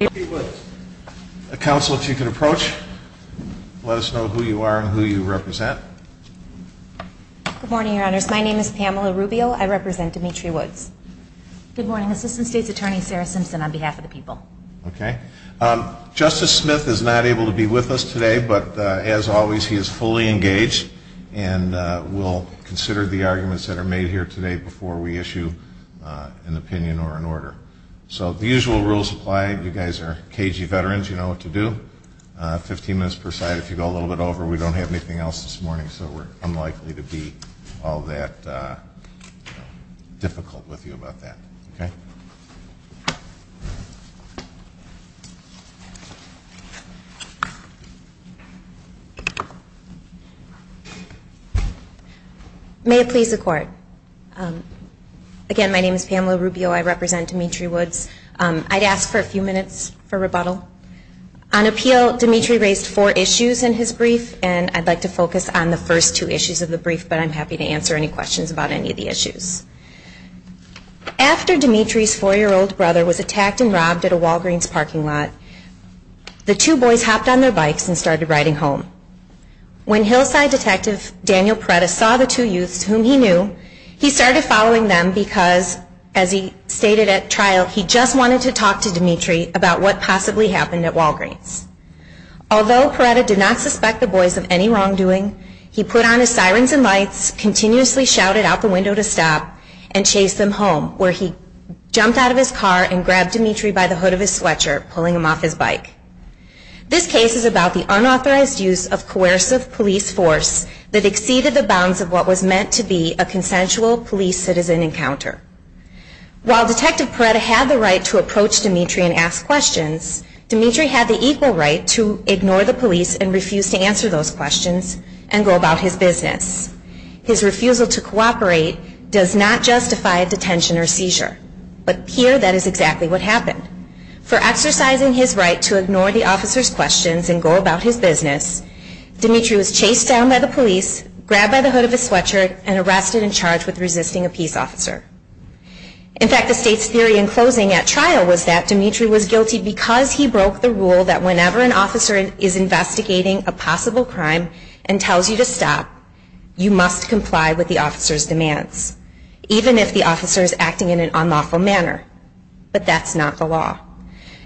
Good morning, Your Honors. My name is Pamela Rubio. I represent Dimitri Woods. Good morning, Assistant State's Attorney Sarah Simpson on behalf of the people. Okay. Justice Smith is not able to be with us today, but as always, he is fully engaged, and we'll consider the arguments that are made here today before we issue an opinion or an order. So the usual rules apply. You guys are KG veterans. You know what to do. Fifteen minutes per side. If you go a little bit over, we don't have anything else this morning, so we're unlikely to be all that difficult with you about that. Okay? May it please the Court. Again, my name is Pamela Rubio. I represent Dimitri Woods. I'd ask for a few minutes for rebuttal. On appeal, Dimitri raised four issues in his brief, and I'd like to focus on the first two issues of the brief, but I'm happy to answer any questions about any of the issues. After Dimitri's four-year-old brother was attacked and robbed at a Walgreens parking lot, the two boys hopped on their bikes and started riding home. When Hillside Detective Daniel Perretta saw the two youths, whom he knew, he started following them because, as he stated at trial, he just wanted to talk to Dimitri about what possibly happened at Walgreens. Although Perretta did not suspect the boys of any wrongdoing, he put on his sirens and lights, continuously shouted out the window to stop, and chased them home, where he jumped out of his car and grabbed Dimitri by the hood of his sweatshirt, pulling him off his bike. This case is about the unauthorized use of coercive police force that exceeded the bounds of what was meant to be a consensual police-citizen encounter. While Detective Perretta had the right to approach Dimitri and ask questions, Dimitri had the equal right to ignore the police and refuse to answer those questions and go about his business. His refusal to cooperate does not justify a detention or seizure. But here, that is exactly what happened. For exercising his right to ignore the officer's questions and go about his business, Dimitri was chased down by the police, grabbed by the hood of his sweatshirt, and arrested and charged with resisting a peace officer. In fact, the state's theory in closing at trial was that Dimitri was guilty because he broke the rule that whenever an officer is investigating a possible crime and tells you to stop, you must comply with the officer's demands, even if the officer is acting in an unlawful manner. But that's not the law.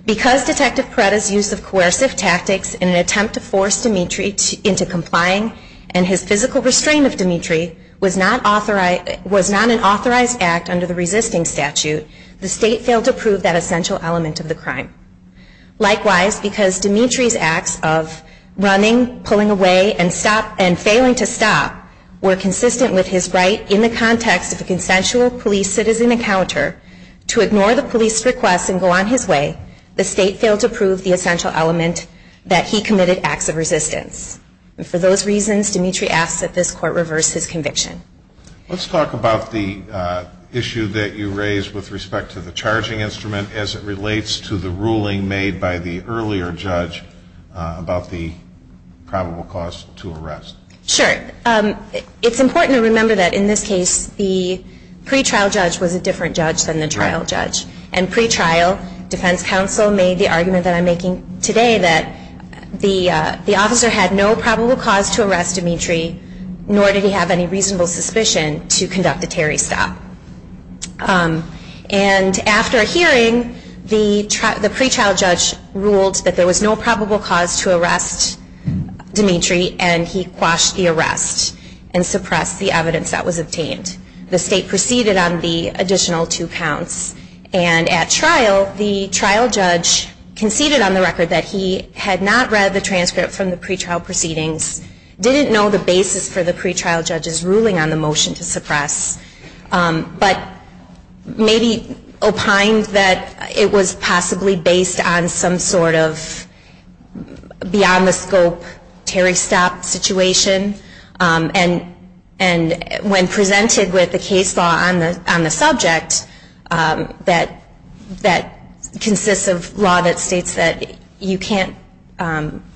Because Detective Perretta's use of coercive tactics in an attempt to force Dimitri into complying and his physical restraint of Dimitri was not an authorized act under the resisting statute, the state failed to prove that essential element of the crime. Likewise, because Dimitri's acts of running, pulling away, and failing to stop were consistent with his right in the context of a consensual police citizen encounter to ignore the police's requests and go on his way, the state failed to prove the essential element that he committed acts of resistance. And for those reasons, Dimitri asks that this Court reverse his conviction. Let's talk about the issue that you raised with respect to the charging instrument as it relates to the ruling made by the earlier judge about the probable cause to arrest. Sure. It's important to remember that in this case, the pretrial judge was a different judge than the trial judge. And pretrial defense counsel made the argument that I'm making today that the officer had no probable cause to arrest Dimitri, nor did he have any reasonable suspicion to conduct a Terry stop. And after a hearing, the pretrial judge ruled that there was no probable cause to arrest Dimitri, and he quashed the arrest and suppressed the evidence that was obtained. The state proceeded on the additional two counts, and at trial, the trial judge conceded on the record that he had not read the transcript from the pretrial proceedings, didn't know the basis for the pretrial judge's ruling on the motion to suppress, but maybe opined that it was possibly based on some sort of beyond the scope Terry stop situation. And when presented with the case law on the subject that consists of law that states that you can't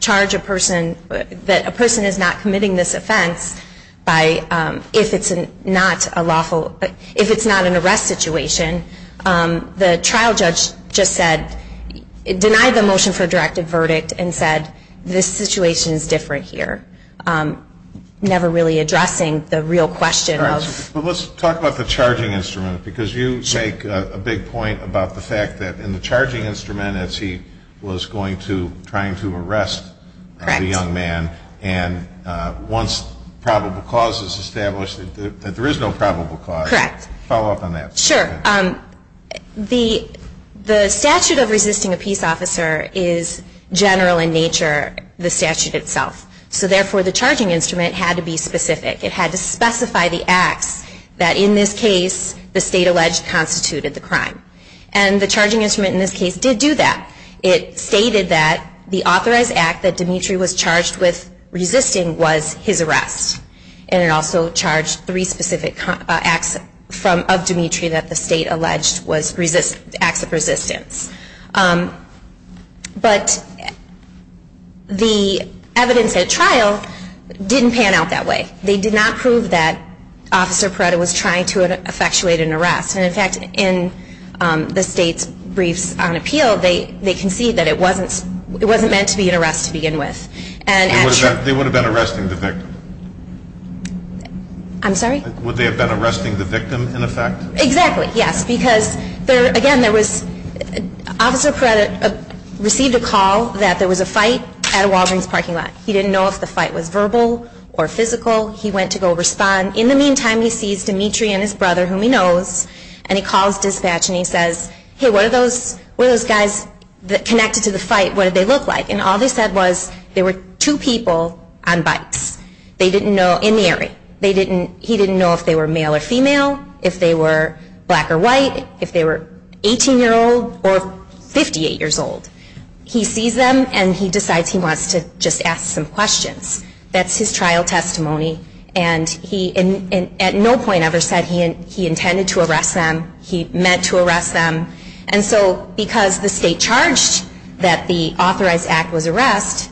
charge a person, that a person is not committing this offense if it's not an arrest situation, the trial judge just said, denied the motion for a directive verdict and said, this situation is different here, never really addressing the real question of. But let's talk about the charging instrument, because you make a big point about the fact that in the charging instrument, as he was going to, trying to arrest the young man. Correct. And once probable cause is established, that there is no probable cause. Correct. Follow up on that. Sure. The statute of resisting a peace officer is general in nature, the statute itself. So therefore, the charging instrument had to be specific. It had to specify the acts that in this case, the state alleged constituted the crime. And the charging instrument in this case did do that. It stated that the authorized act that Dimitri was charged with resisting was his arrest. And it also charged three specific acts of Dimitri that the state alleged was acts of resistance. But the evidence at trial didn't pan out that way. They did not prove that Officer Perretta was trying to effectuate an arrest. And, in fact, in the state's briefs on appeal, they concede that it wasn't meant to be an arrest to begin with. They would have been arresting the victim. I'm sorry? Would they have been arresting the victim, in effect? Exactly, yes. Because, again, Officer Perretta received a call that there was a fight at a Walgreens parking lot. He didn't know if the fight was verbal or physical. He went to go respond. In the meantime, he sees Dimitri and his brother, whom he knows, and he calls dispatch and he says, Hey, what are those guys that connected to the fight, what did they look like? And all they said was there were two people on bikes in the area. He didn't know if they were male or female, if they were black or white, if they were 18-year-old or 58-years-old. He sees them and he decides he wants to just ask some questions. That's his trial testimony. And he at no point ever said he intended to arrest them, he meant to arrest them. And so because the state charged that the authorized act was arrest,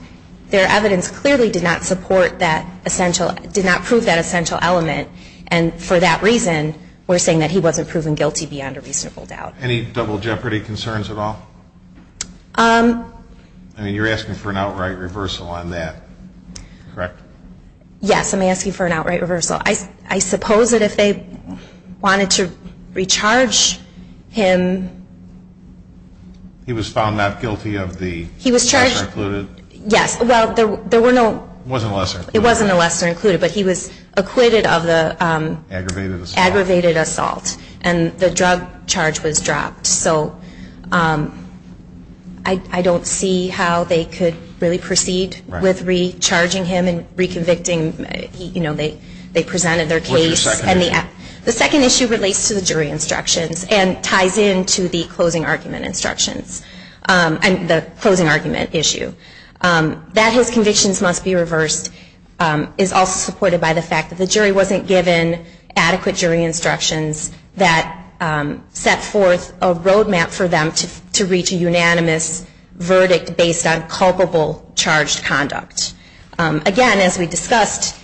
their evidence clearly did not support that essential, did not prove that essential element. And for that reason, we're saying that he wasn't proven guilty beyond a reasonable doubt. Any double jeopardy concerns at all? I mean, you're asking for an outright reversal on that, correct? Yes, I'm asking for an outright reversal. I suppose that if they wanted to recharge him. He was found not guilty of the lesser included? Yes. Well, there were no. It wasn't lesser. It wasn't a lesser included, but he was acquitted of the. Aggravated assault. Aggravated assault. And the drug charge was dropped. So I don't see how they could really proceed with recharging him and reconvicting. You know, they presented their case. What's the second issue? The second issue relates to the jury instructions and ties into the closing argument instructions. And the closing argument issue. That his convictions must be reversed is also supported by the fact that the jury wasn't given adequate jury instructions that set forth a roadmap for them to reach a unanimous verdict based on culpable charged conduct. Again, as we discussed,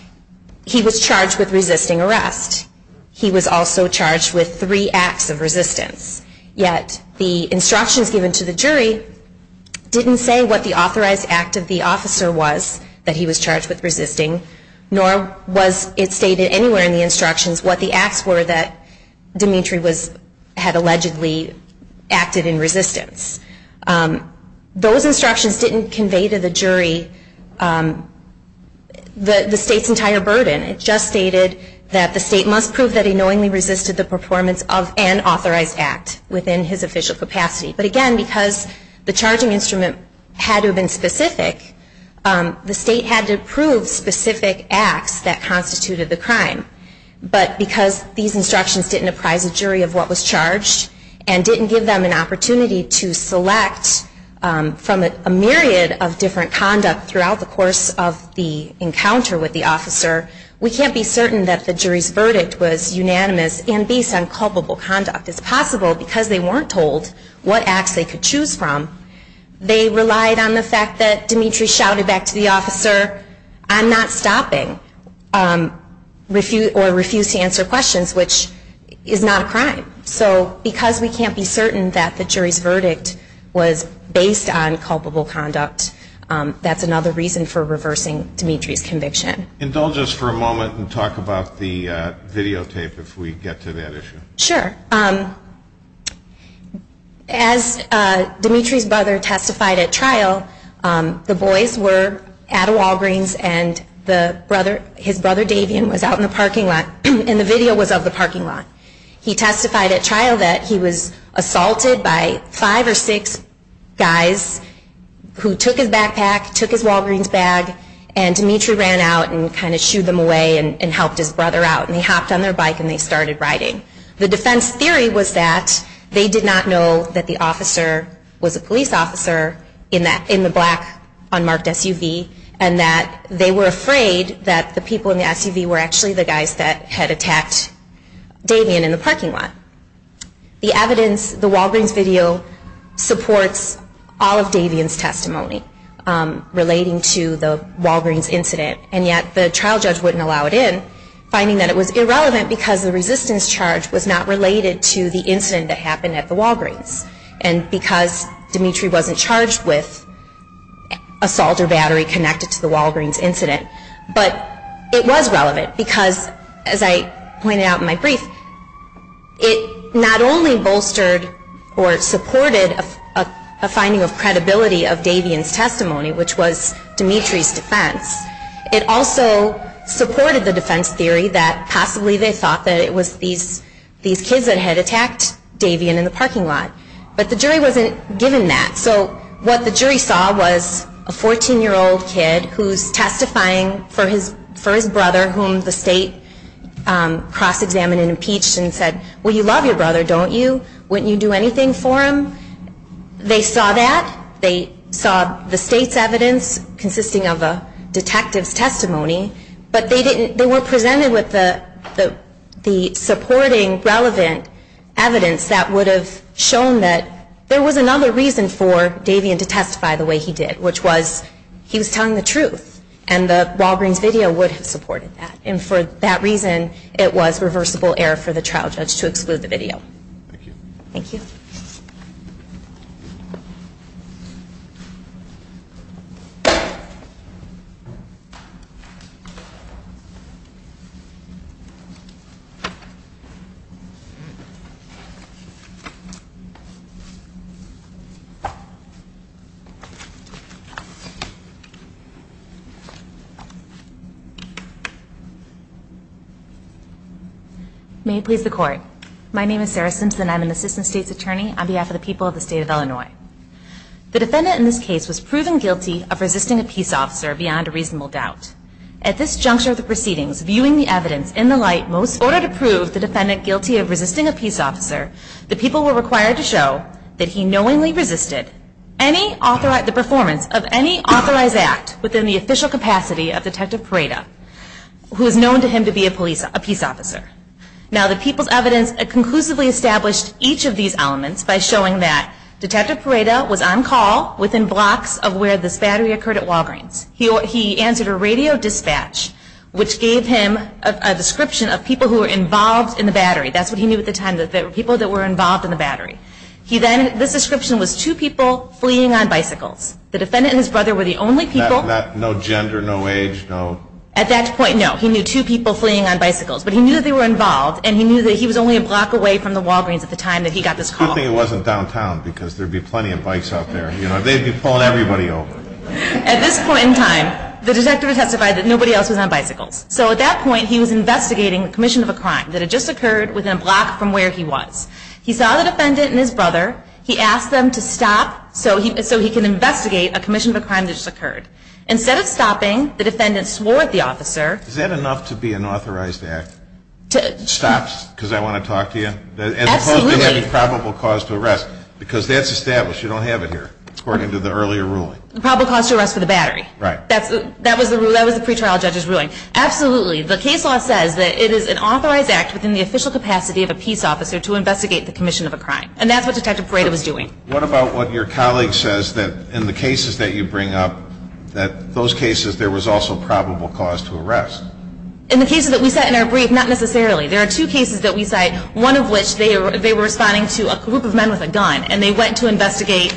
he was charged with resisting arrest. He was also charged with three acts of resistance. Yet the instructions given to the jury didn't say what the authorized act of the officer was that he was charged with resisting, nor was it stated anywhere in the instructions what the acts were that Dimitri had allegedly acted in resistance. Those instructions didn't convey to the jury the state's entire burden. It just stated that the state must prove that he knowingly resisted the performance of an authorized act within his official capacity. But again, because the charging instrument had to have been specific, the state had to prove specific acts that constituted the crime. But because these instructions didn't apprise the jury of what was charged and didn't give them an opportunity to select from a myriad of different conduct throughout the course of the encounter with the officer, we can't be certain that the jury's verdict was unanimous and based on culpable conduct. It's possible because they weren't told what acts they could choose from, they relied on the fact that Dimitri shouted back to the officer, I'm not stopping, or refused to answer questions, which is not a crime. So because we can't be certain that the jury's verdict was based on culpable conduct, that's another reason for reversing Dimitri's conviction. Indulge us for a moment and talk about the videotape if we get to that issue. Sure. As Dimitri's brother testified at trial, the boys were at a Walgreens and his brother Davion was out in the parking lot and the video was of the parking lot. He testified at trial that he was assaulted by five or six guys who took his backpack, took his Walgreens bag, and Dimitri ran out and kind of shooed them away and helped his brother out. And they hopped on their bike and they started riding. The defense theory was that they did not know that the officer was a police officer in the black unmarked SUV and that they were afraid that the people in the SUV were actually the guys that had attacked Davion in the parking lot. The evidence, the Walgreens video, supports all of Davion's testimony relating to the Walgreens incident. And yet the trial judge wouldn't allow it in, finding that it was irrelevant because the resistance charge was not related to the incident that happened at the Walgreens. And because Dimitri wasn't charged with assault or battery connected to the Walgreens incident. But it was relevant because, as I pointed out in my brief, it not only bolstered or supported a finding of credibility of Davion's testimony, which was Dimitri's defense. It also supported the defense theory that possibly they thought that it was these kids that had attacked Davion in the parking lot. But the jury wasn't given that. So what the jury saw was a 14-year-old kid who's testifying for his brother, whom the state cross-examined and impeached and said, well, you love your brother, don't you? Wouldn't you do anything for him? They saw that. They saw the state's evidence consisting of a detective's testimony. But they were presented with the supporting relevant evidence that would have shown that there was another reason for Davion to testify the way he did, which was he was telling the truth. And the Walgreens video would have supported that. And for that reason, it was reversible error for the trial judge to exclude the video. Thank you. Thank you. Thank you. May it please the court. My name is Sarah Simpson. I'm an assistant state's attorney on behalf of the people of the state of Illinois. The defendant in this case was proven guilty of resisting a peace officer beyond a reasonable doubt. At this juncture of the proceedings, viewing the evidence in the light most order to prove the defendant guilty of resisting a peace officer, the people were required to show that he knowingly resisted the performance of any authorized act within the official capacity of Detective Parada, who is known to him to be a peace officer. Now the people's evidence conclusively established each of these elements by showing that Detective Parada was on call within blocks of where this battery occurred at Walgreens. He answered a radio dispatch, which gave him a description of people who were involved in the battery. That's what he knew at the time, that there were people that were involved in the battery. He then, this description was two people fleeing on bicycles. The defendant and his brother were the only people. No gender, no age, no. At that point, no. He knew two people fleeing on bicycles. But he knew that they were involved, and he knew that he was only a block away from the Walgreens at the time that he got this call. Good thing it wasn't downtown, because there'd be plenty of bikes out there. They'd be pulling everybody over. At this point in time, the detective testified that nobody else was on bicycles. So at that point, he was investigating a commission of a crime that had just occurred within a block from where he was. He saw the defendant and his brother. He asked them to stop so he can investigate a commission of a crime that just occurred. Instead of stopping, the defendant swore at the officer. Is that enough to be an authorized act? Stops, because I want to talk to you? Absolutely. As opposed to having probable cause to arrest, because that's established. You don't have it here, according to the earlier ruling. Probable cause to arrest for the battery. Right. That was the pre-trial judge's ruling. Absolutely. The case law says that it is an authorized act within the official capacity of a peace officer to investigate the commission of a crime. And that's what Detective Parada was doing. What about what your colleague says that in the cases that you bring up, that those cases there was also probable cause to arrest? In the cases that we cite in our brief, not necessarily. There are two cases that we cite, one of which they were responding to a group of men with a gun, and they went to investigate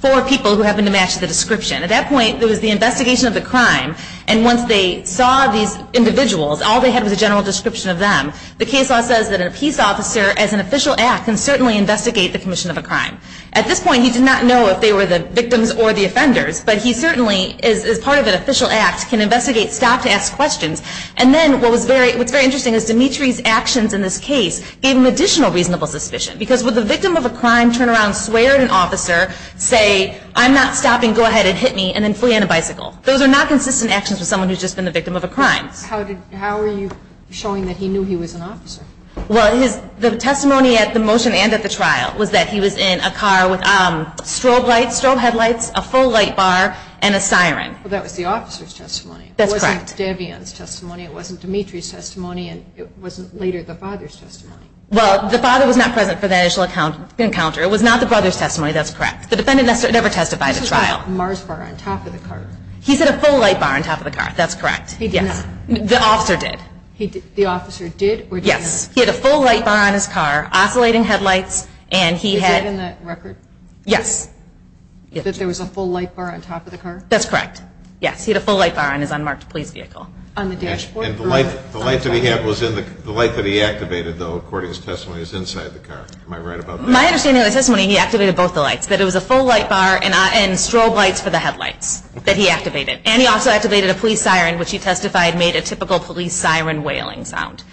four people who happened to match the description. At that point, it was the investigation of the crime, and once they saw these individuals, all they had was a general description of them. The case law says that a peace officer, as an official act, can certainly investigate the commission of a crime. At this point, he did not know if they were the victims or the offenders, but he certainly, as part of an official act, can investigate, stop to ask questions. And then what's very interesting is Dimitri's actions in this case gave him additional reasonable suspicion. Because would the victim of a crime turn around, swear at an officer, say, I'm not stopping, go ahead and hit me, and then flee on a bicycle? Those are not consistent actions with someone who's just been the victim of a crime. And then the defense, how are you showing that he knew he was an officer? Well, the testimony at the motion and at the trial was that he was in a car with strobe lights, strobe headlights, a full light bar, and a siren. Well, that was the officer's testimony. That's correct. It wasn't Davian's testimony, it wasn't Dimitri's testimony, and it wasn't later the father's testimony. Well, the father was not present for that initial encounter. It was not the brother's testimony. That's correct. The defendant never testified at trial. This was at a Mars bar on top of the car. He said a full light bar on top of the car. That's correct. He did not. The officer did. The officer did? Yes. He had a full light bar on his car, oscillating headlights, and he had. Is it in the record? Yes. That there was a full light bar on top of the car? That's correct. Yes, he had a full light bar on his unmarked police vehicle. On the dashboard? And the light that he had was in the light that he activated, though, according to his testimony, was inside the car. Am I right about that? My understanding of the testimony, he activated both the lights, that it was a full light bar and strobe lights for the headlights that he activated. And he also activated a police siren, which he testified made a typical police siren wailing sound.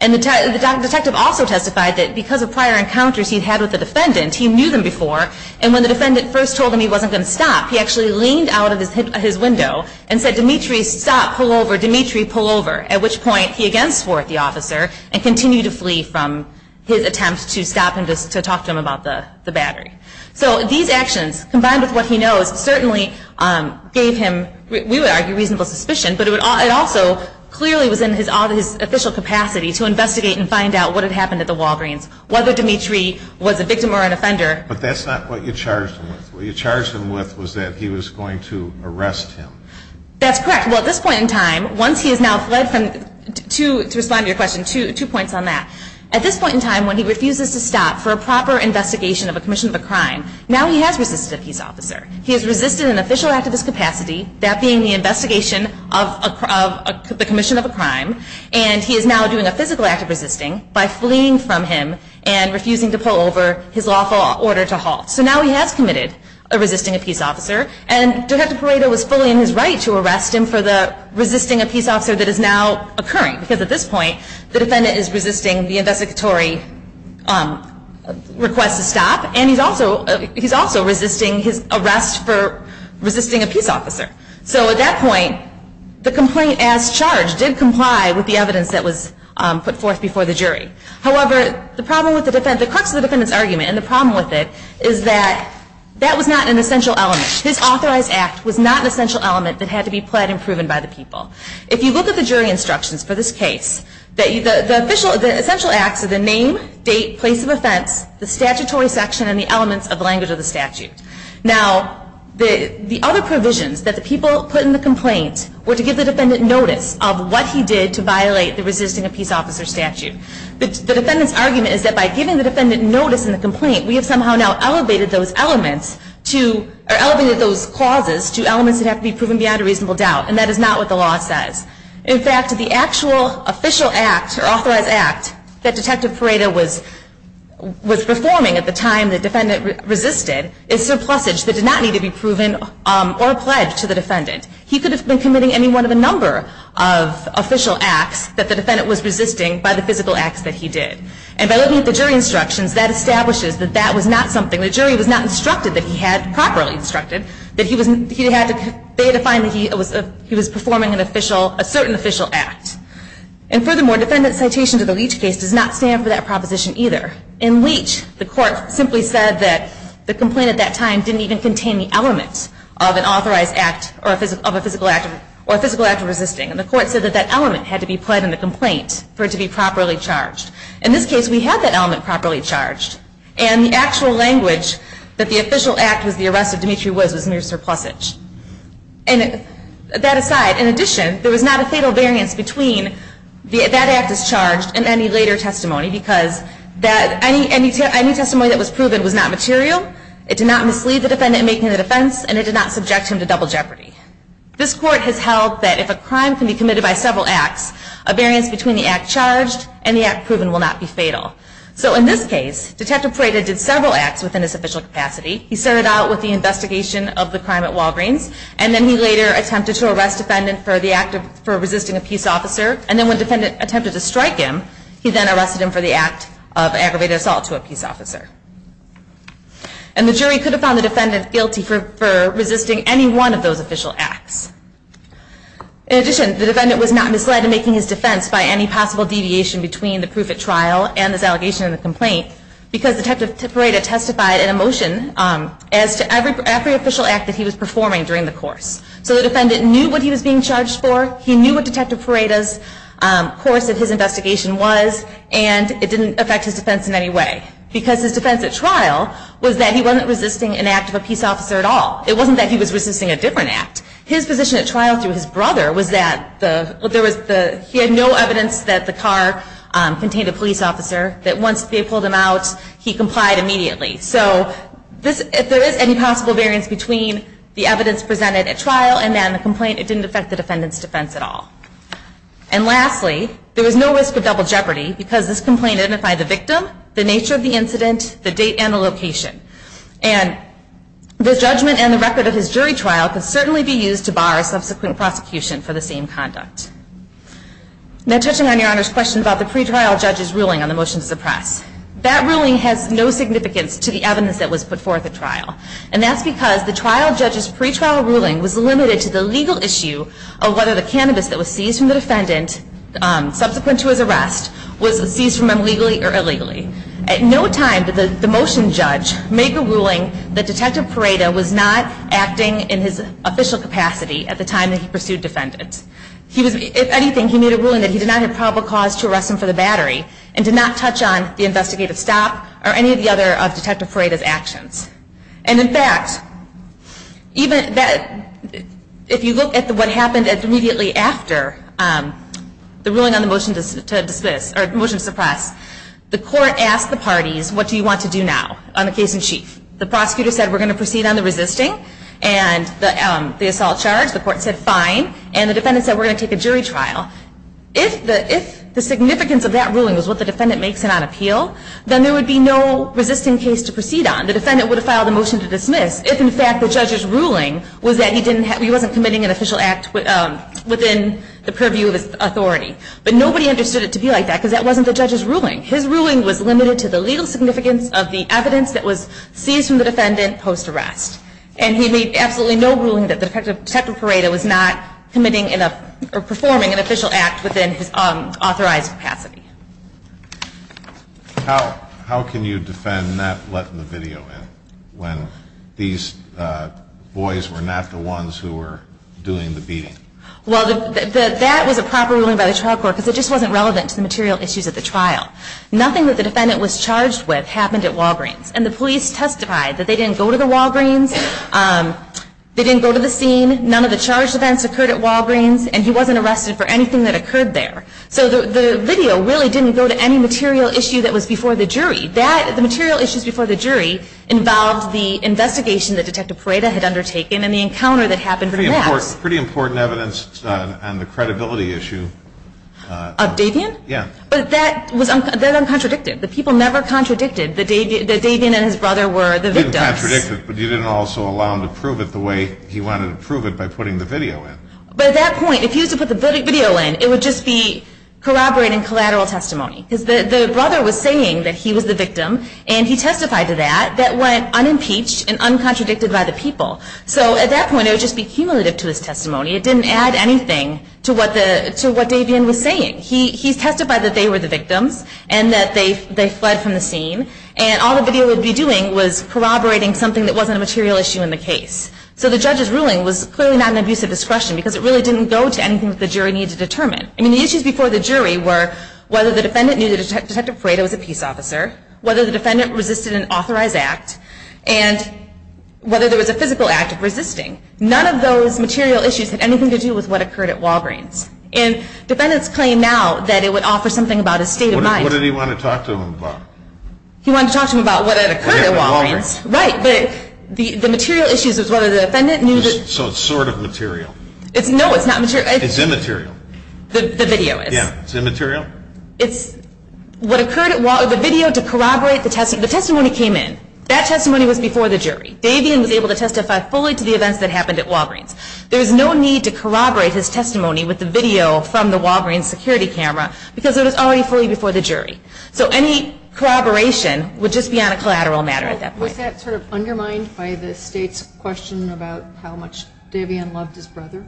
And the detective also testified that because of prior encounters he'd had with the defendant, he knew them before, and when the defendant first told him he wasn't going to stop, he actually leaned out of his window and said, Dimitri, stop, pull over, Dimitri, pull over, at which point he again swore at the officer and continued to flee from his attempt to stop him, to talk to him about the battery. So these actions, combined with what he knows, certainly gave him, we would argue, reasonable suspicion, but it also clearly was in his official capacity to investigate and find out what had happened at the Walgreens, whether Dimitri was a victim or an offender. But that's not what you charged him with. What you charged him with was that he was going to arrest him. That's correct. Well, at this point in time, once he has now fled from, to respond to your question, two points on that. At this point in time, when he refuses to stop for a proper investigation of a commission of a crime, now he has resisted a peace officer. He has resisted an official act of his capacity, that being the investigation of the commission of a crime, and he is now doing a physical act of resisting by fleeing from him and refusing to pull over, his lawful order to halt. So now he has committed a resisting a peace officer, and Detective Pareto was fully in his right to arrest him for the resisting a peace officer that is now occurring, because at this point, the defendant is resisting the investigatory request to stop, and he's also resisting his arrest for resisting a peace officer. So at that point, the complaint as charged did comply with the evidence that was put forth before the jury. However, the problem with the defendant, the crux of the defendant's argument, and the problem with it, is that that was not an essential element. His authorized act was not an essential element that had to be pled and proven by the people. If you look at the jury instructions for this case, the essential acts are the name, date, place of offense, the statutory section, and the elements of the language of the statute. Now, the other provisions that the people put in the complaint were to give the defendant notice of what he did to violate the resisting a peace officer statute. The defendant's argument is that by giving the defendant notice in the complaint, we have somehow now elevated those clauses to elements that have to be proven beyond a reasonable doubt, and that is not what the law says. In fact, the actual official act, or authorized act, that Detective Pareto was performing at the time the defendant resisted is surplusage that did not need to be proven or pledged to the defendant. He could have been committing any one of the number of official acts that the defendant was resisting by the physical acts that he did. And by looking at the jury instructions, that establishes that that was not something, the jury was not instructed that he had, properly instructed, that he was performing a certain official act. And furthermore, defendant's citation to the Leach case does not stand for that proposition either. In Leach, the court simply said that the complaint at that time didn't even contain the element of an authorized act, or a physical act of resisting. And the court said that that element had to be pled in the complaint for it to be properly charged. In this case, we had that element properly charged, and the actual language that the official act was the arrest of Dimitri Woods was mere surplusage. And that aside, in addition, there was not a fatal variance between that act as charged and any later testimony, because any testimony that was proven was not material, it did not mislead the defendant in making the defense, and it did not subject him to double jeopardy. This court has held that if a crime can be committed by several acts, a variance between the act charged and the act proven will not be fatal. So in this case, Detective Prada did several acts within his official capacity. He started out with the investigation of the crime at Walgreens, and then he later attempted to arrest a defendant for resisting a peace officer, and then when a defendant attempted to strike him, he then arrested him for the act of aggravated assault to a peace officer. And the jury could have found the defendant guilty for resisting any one of those official acts. In addition, the defendant was not misled in making his defense by any possible deviation between the proof at trial and his allegation in the complaint, because Detective Prada testified in a motion as to every official act that he was performing during the course. So the defendant knew what he was being charged for, he knew what Detective Prada's course of his investigation was, and it didn't affect his defense in any way, because his defense at trial was that he wasn't resisting an act of a peace officer at all. It wasn't that he was resisting a different act. His position at trial through his brother was that he had no evidence that the car contained a police officer, that once they pulled him out, he complied immediately. So if there is any possible variance between the evidence presented at trial and then the complaint, it didn't affect the defendant's defense at all. And lastly, there was no risk of double jeopardy, because this complaint identified the victim, the nature of the incident, the date and the location. And the judgment and the record of his jury trial could certainly be used to bar subsequent prosecution for the same conduct. Now, touching on Your Honor's question about the pretrial judge's ruling on the motion to suppress, that ruling has no significance to the evidence that was put forth at trial. And that's because the trial judge's pretrial ruling was limited to the legal issue of whether the cannabis that was seized from the defendant, subsequent to his arrest, was seized from him legally or illegally. At no time did the motion judge make a ruling that Detective Parada was not acting in his official capacity at the time that he pursued defendants. If anything, he made a ruling that he did not have probable cause to arrest him for the battery and did not touch on the investigative stop or any of the other of Detective Parada's actions. And in fact, if you look at what happened immediately after the ruling on the motion to suppress, the court asked the parties, what do you want to do now on the case in chief? The prosecutor said, we're going to proceed on the resisting and the assault charge. The court said, fine. And the defendant said, we're going to take a jury trial. If the significance of that ruling was what the defendant makes it on appeal, then there would be no resisting case to proceed on. The defendant would have filed a motion to dismiss if, in fact, the judge's ruling was that he wasn't committing an official act within the purview of his authority. But nobody understood it to be like that because that wasn't the judge's ruling. His ruling was limited to the legal significance of the evidence that was seized from the defendant post-arrest. And he made absolutely no ruling that Detective Parada was not committing or performing an official act within his authorized capacity. How can you defend not letting the video in when these boys were not the ones who were doing the beating? Well, that was a proper ruling by the trial court because it just wasn't relevant to the material issues at the trial. Nothing that the defendant was charged with happened at Walgreens. And the police testified that they didn't go to the Walgreens. They didn't go to the scene. None of the charge events occurred at Walgreens. And he wasn't arrested for anything that occurred there. So the video really didn't go to any material issue that was before the jury. The material issues before the jury involved the investigation that Detective Parada had undertaken and the encounter that happened there. Pretty important evidence on the credibility issue. Of Davian? Yeah. But that was uncontradictive. The people never contradicted that Davian and his brother were the victims. You didn't contradict it, but you didn't also allow him to prove it the way he wanted to prove it by putting the video in. But at that point, if he was to put the video in, it would just be corroborating collateral testimony because the brother was saying that he was the victim, and he testified to that. That went unimpeached and uncontradicted by the people. So at that point, it would just be cumulative to his testimony. It didn't add anything to what Davian was saying. He testified that they were the victims and that they fled from the scene. And all the video would be doing was corroborating something that wasn't a material issue in the case. So the judge's ruling was clearly not an abuse of discretion because it really didn't go to anything that the jury needed to determine. I mean, the issues before the jury were whether the defendant knew that Detective Parada was a peace officer, whether the defendant resisted an authorized act, and whether there was a physical act of resisting. None of those material issues had anything to do with what occurred at Walgreens. And defendants claim now that it would offer something about his state of mind. What did he want to talk to him about? He wanted to talk to him about what had occurred at Walgreens. Right, but the material issues was whether the defendant knew that. So it's sort of material. No, it's not material. It's immaterial. The video is. Yeah, it's immaterial. It's what occurred at Walgreens. The video to corroborate the testimony came in. That testimony was before the jury. Davian was able to testify fully to the events that happened at Walgreens. There's no need to corroborate his testimony with the video from the Walgreens security camera because it was already fully before the jury. So any corroboration would just be on a collateral matter at that point. Was that sort of undermined by the state's question about how much Davian loved his brother?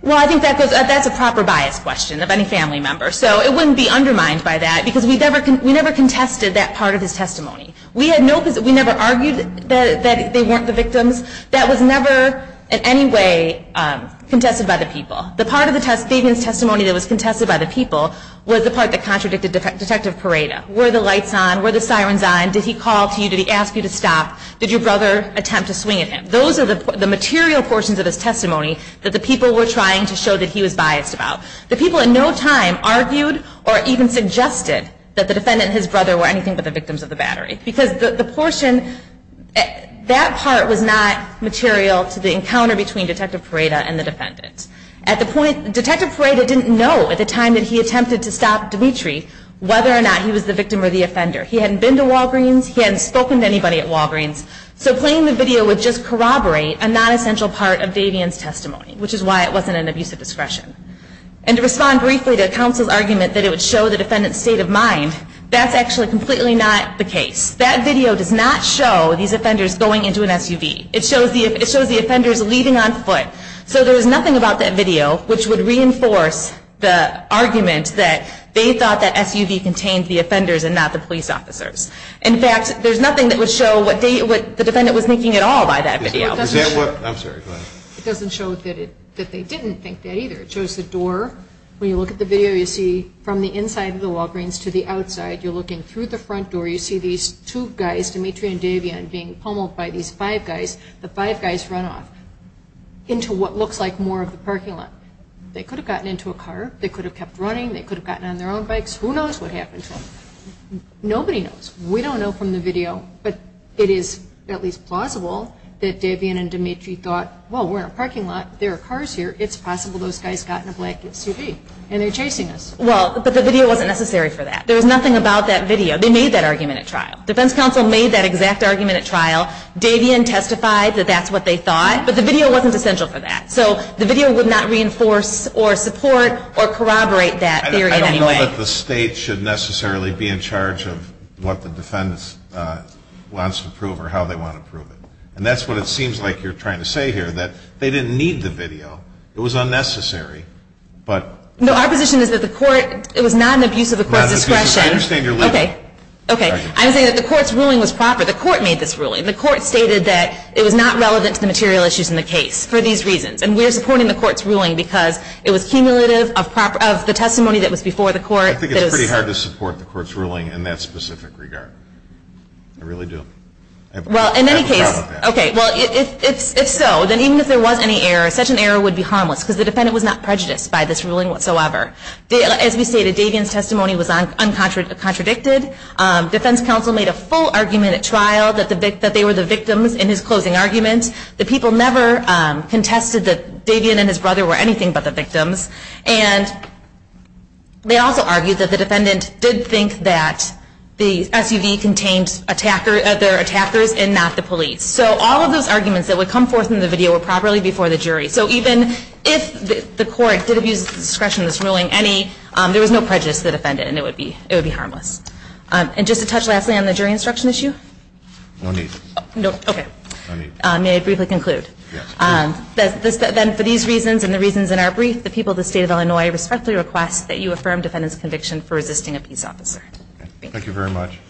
Well, I think that's a proper bias question of any family member. So it wouldn't be undermined by that because we never contested that part of his testimony. We never argued that they weren't the victims. That was never in any way contested by the people. The part of Davian's testimony that was contested by the people was the part that contradicted Detective Parada. Were the lights on? Were the sirens on? Did he call to you? Did he ask you to stop? Did your brother attempt to swing at him? Those are the material portions of his testimony that the people were trying to show that he was biased about. The people at no time argued or even suggested that the defendant and his brother were anything but the victims of the battery because that part was not material to the encounter between Detective Parada and the defendant. Detective Parada didn't know at the time that he attempted to stop Dimitri whether or not he was the victim or the offender. He hadn't been to Walgreens. He hadn't spoken to anybody at Walgreens. So playing the video would just corroborate a non-essential part of Davian's testimony, which is why it wasn't an abuse of discretion. And to respond briefly to counsel's argument that it would show the defendant's state of mind, that's actually completely not the case. That video does not show these offenders going into an SUV. It shows the offenders leaving on foot. So there's nothing about that video which would reinforce the argument that they thought that SUV contained the offenders and not the police officers. In fact, there's nothing that would show what the defendant was thinking at all by that video. It doesn't show that they didn't think that either. It shows the door. When you look at the video, you see from the inside of the Walgreens to the outside. You're looking through the front door. You see these two guys, Dimitri and Davian, being pummeled by these five guys. The five guys run off into what looks like more of the parking lot. They could have gotten into a car. They could have kept running. They could have gotten on their own bikes. Who knows what happened to them? Nobody knows. We don't know from the video, but it is at least plausible that Davian and Dimitri thought, well, we're in a parking lot. There are cars here. It's possible those guys got in a black SUV, and they're chasing us. Well, but the video wasn't necessary for that. There was nothing about that video. They made that argument at trial. Defense counsel made that exact argument at trial. Davian testified that that's what they thought, but the video wasn't essential for that. So the video would not reinforce or support or corroborate that theory in any way. I don't think that the state should necessarily be in charge of what the defendants want to prove or how they want to prove it. And that's what it seems like you're trying to say here, that they didn't need the video. It was unnecessary. No, our position is that the court, it was not an abuse of the court's discretion. Okay. Okay. I'm saying that the court's ruling was proper. The court made this ruling. The court stated that it was not relevant to the material issues in the case for these reasons. And we're supporting the court's ruling because it was cumulative of the testimony that was before the court. I think it's pretty hard to support the court's ruling in that specific regard. I really do. Well, in any case, okay. Well, if so, then even if there was any error, such an error would be harmless because the defendant was not prejudiced by this ruling whatsoever. As we stated, Davian's testimony was uncontradicted. Defense counsel made a full argument at trial that they were the victims in his closing argument. The people never contested that Davian and his brother were anything but the victims. And they also argued that the defendant did think that the SUV contained their attackers and not the police. So all of those arguments that would come forth in the video were properly before the jury. So even if the court did abuse the discretion of this ruling, there was no prejudice to the defendant. It would be harmless. And just to touch lastly on the jury instruction issue. No need. Okay. May I briefly conclude? Yes. Then for these reasons and the reasons in our brief, the people of the State of Illinois respectfully request that you affirm defendant's conviction for resisting a peace officer. Thank you very much.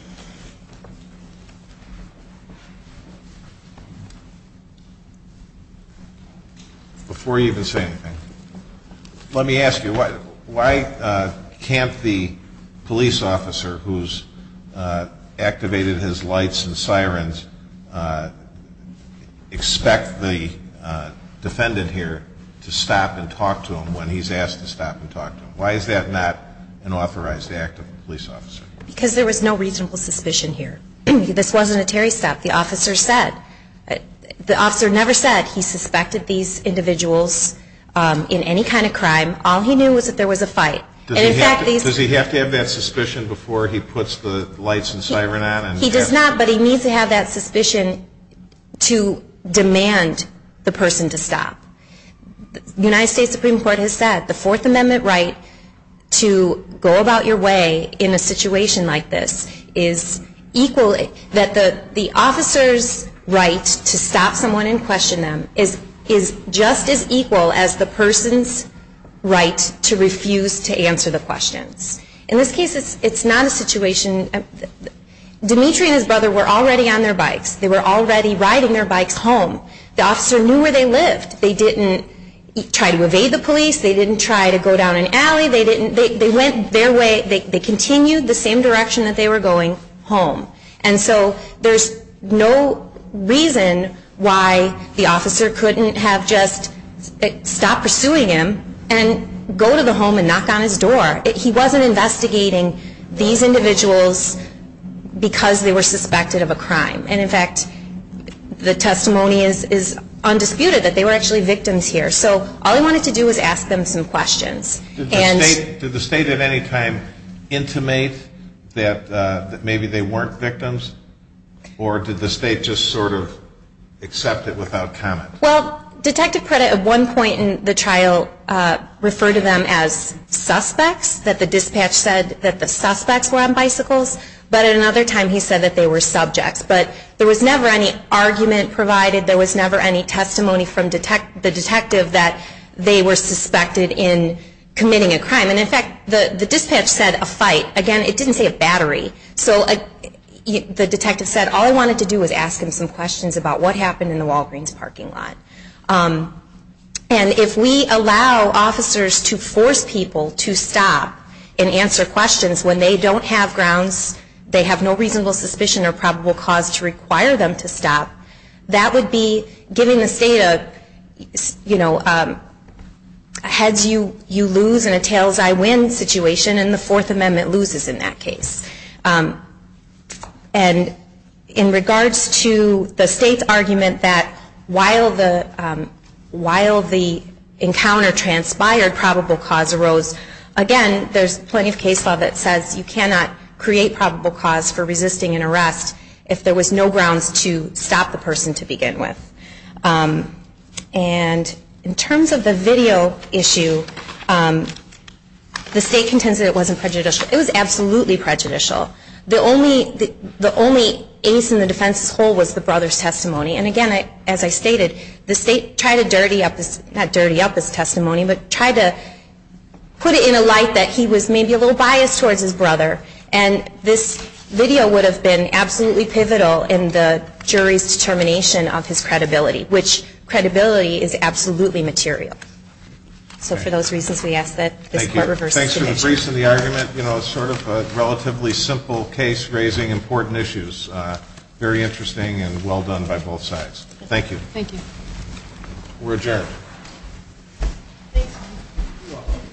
Before you even say anything, let me ask you, why can't the police officer who's activated his lights and sirens expect the defendant here to stop and talk to him when he's asked to stop and talk to him? Why is that not an authorized act of a police officer? Because there was no reasonable suspicion here. This wasn't a Terry stop. The officer said. All he knew was that there was a fight. Does he have to have that suspicion before he puts the lights and siren on? He does not, but he needs to have that suspicion to demand the person to stop. The United States Supreme Court has said the Fourth Amendment right to go about your way in a situation like this is equal that the officer's right to stop someone and question them is just as equal as the person's right to refuse to answer the questions. In this case, it's not a situation. Dimitri and his brother were already on their bikes. They were already riding their bikes home. The officer knew where they lived. They didn't try to evade the police. They didn't try to go down an alley. They went their way. They continued the same direction that they were going, home. And so there's no reason why the officer couldn't have just stopped pursuing him and go to the home and knock on his door. He wasn't investigating these individuals because they were suspected of a crime. And, in fact, the testimony is undisputed that they were actually victims here. So all he wanted to do was ask them some questions. Did the state at any time intimate that maybe they weren't victims? Or did the state just sort of accept it without comment? Well, Detective Preda at one point in the trial referred to them as suspects, that the dispatch said that the suspects were on bicycles. But at another time he said that they were subjects. But there was never any argument provided. There was never any testimony from the detective that they were suspected in committing a crime. And, in fact, the dispatch said a fight. Again, it didn't say a battery. So the detective said all he wanted to do was ask him some questions about what happened in the Walgreens parking lot. And if we allow officers to force people to stop and answer questions when they don't have grounds, they have no reasonable suspicion or probable cause to require them to stop, that would be giving the state a heads-you-lose and a tails-I-win situation, and the Fourth Amendment loses in that case. And in regards to the state's argument that while the encounter transpired, probable cause arose, again, there's plenty of case law that says you cannot create probable cause for resisting an arrest if there was no grounds to stop the person to begin with. And in terms of the video issue, the state contends that it wasn't prejudicial. It was absolutely prejudicial. The only ace in the defense's hole was the brother's testimony. And, again, as I stated, the state tried to dirty up this testimony, but tried to put it in a light that he was maybe a little biased towards his brother. And this video would have been absolutely pivotal in the jury's determination of his credibility, which credibility is absolutely material. So for those reasons, we ask that this court reverse the situation. Thank you. Thanks for the briefs and the argument. You know, sort of a relatively simple case raising important issues. Very interesting and well done by both sides. Thank you. We're adjourned. Thanks. You're welcome.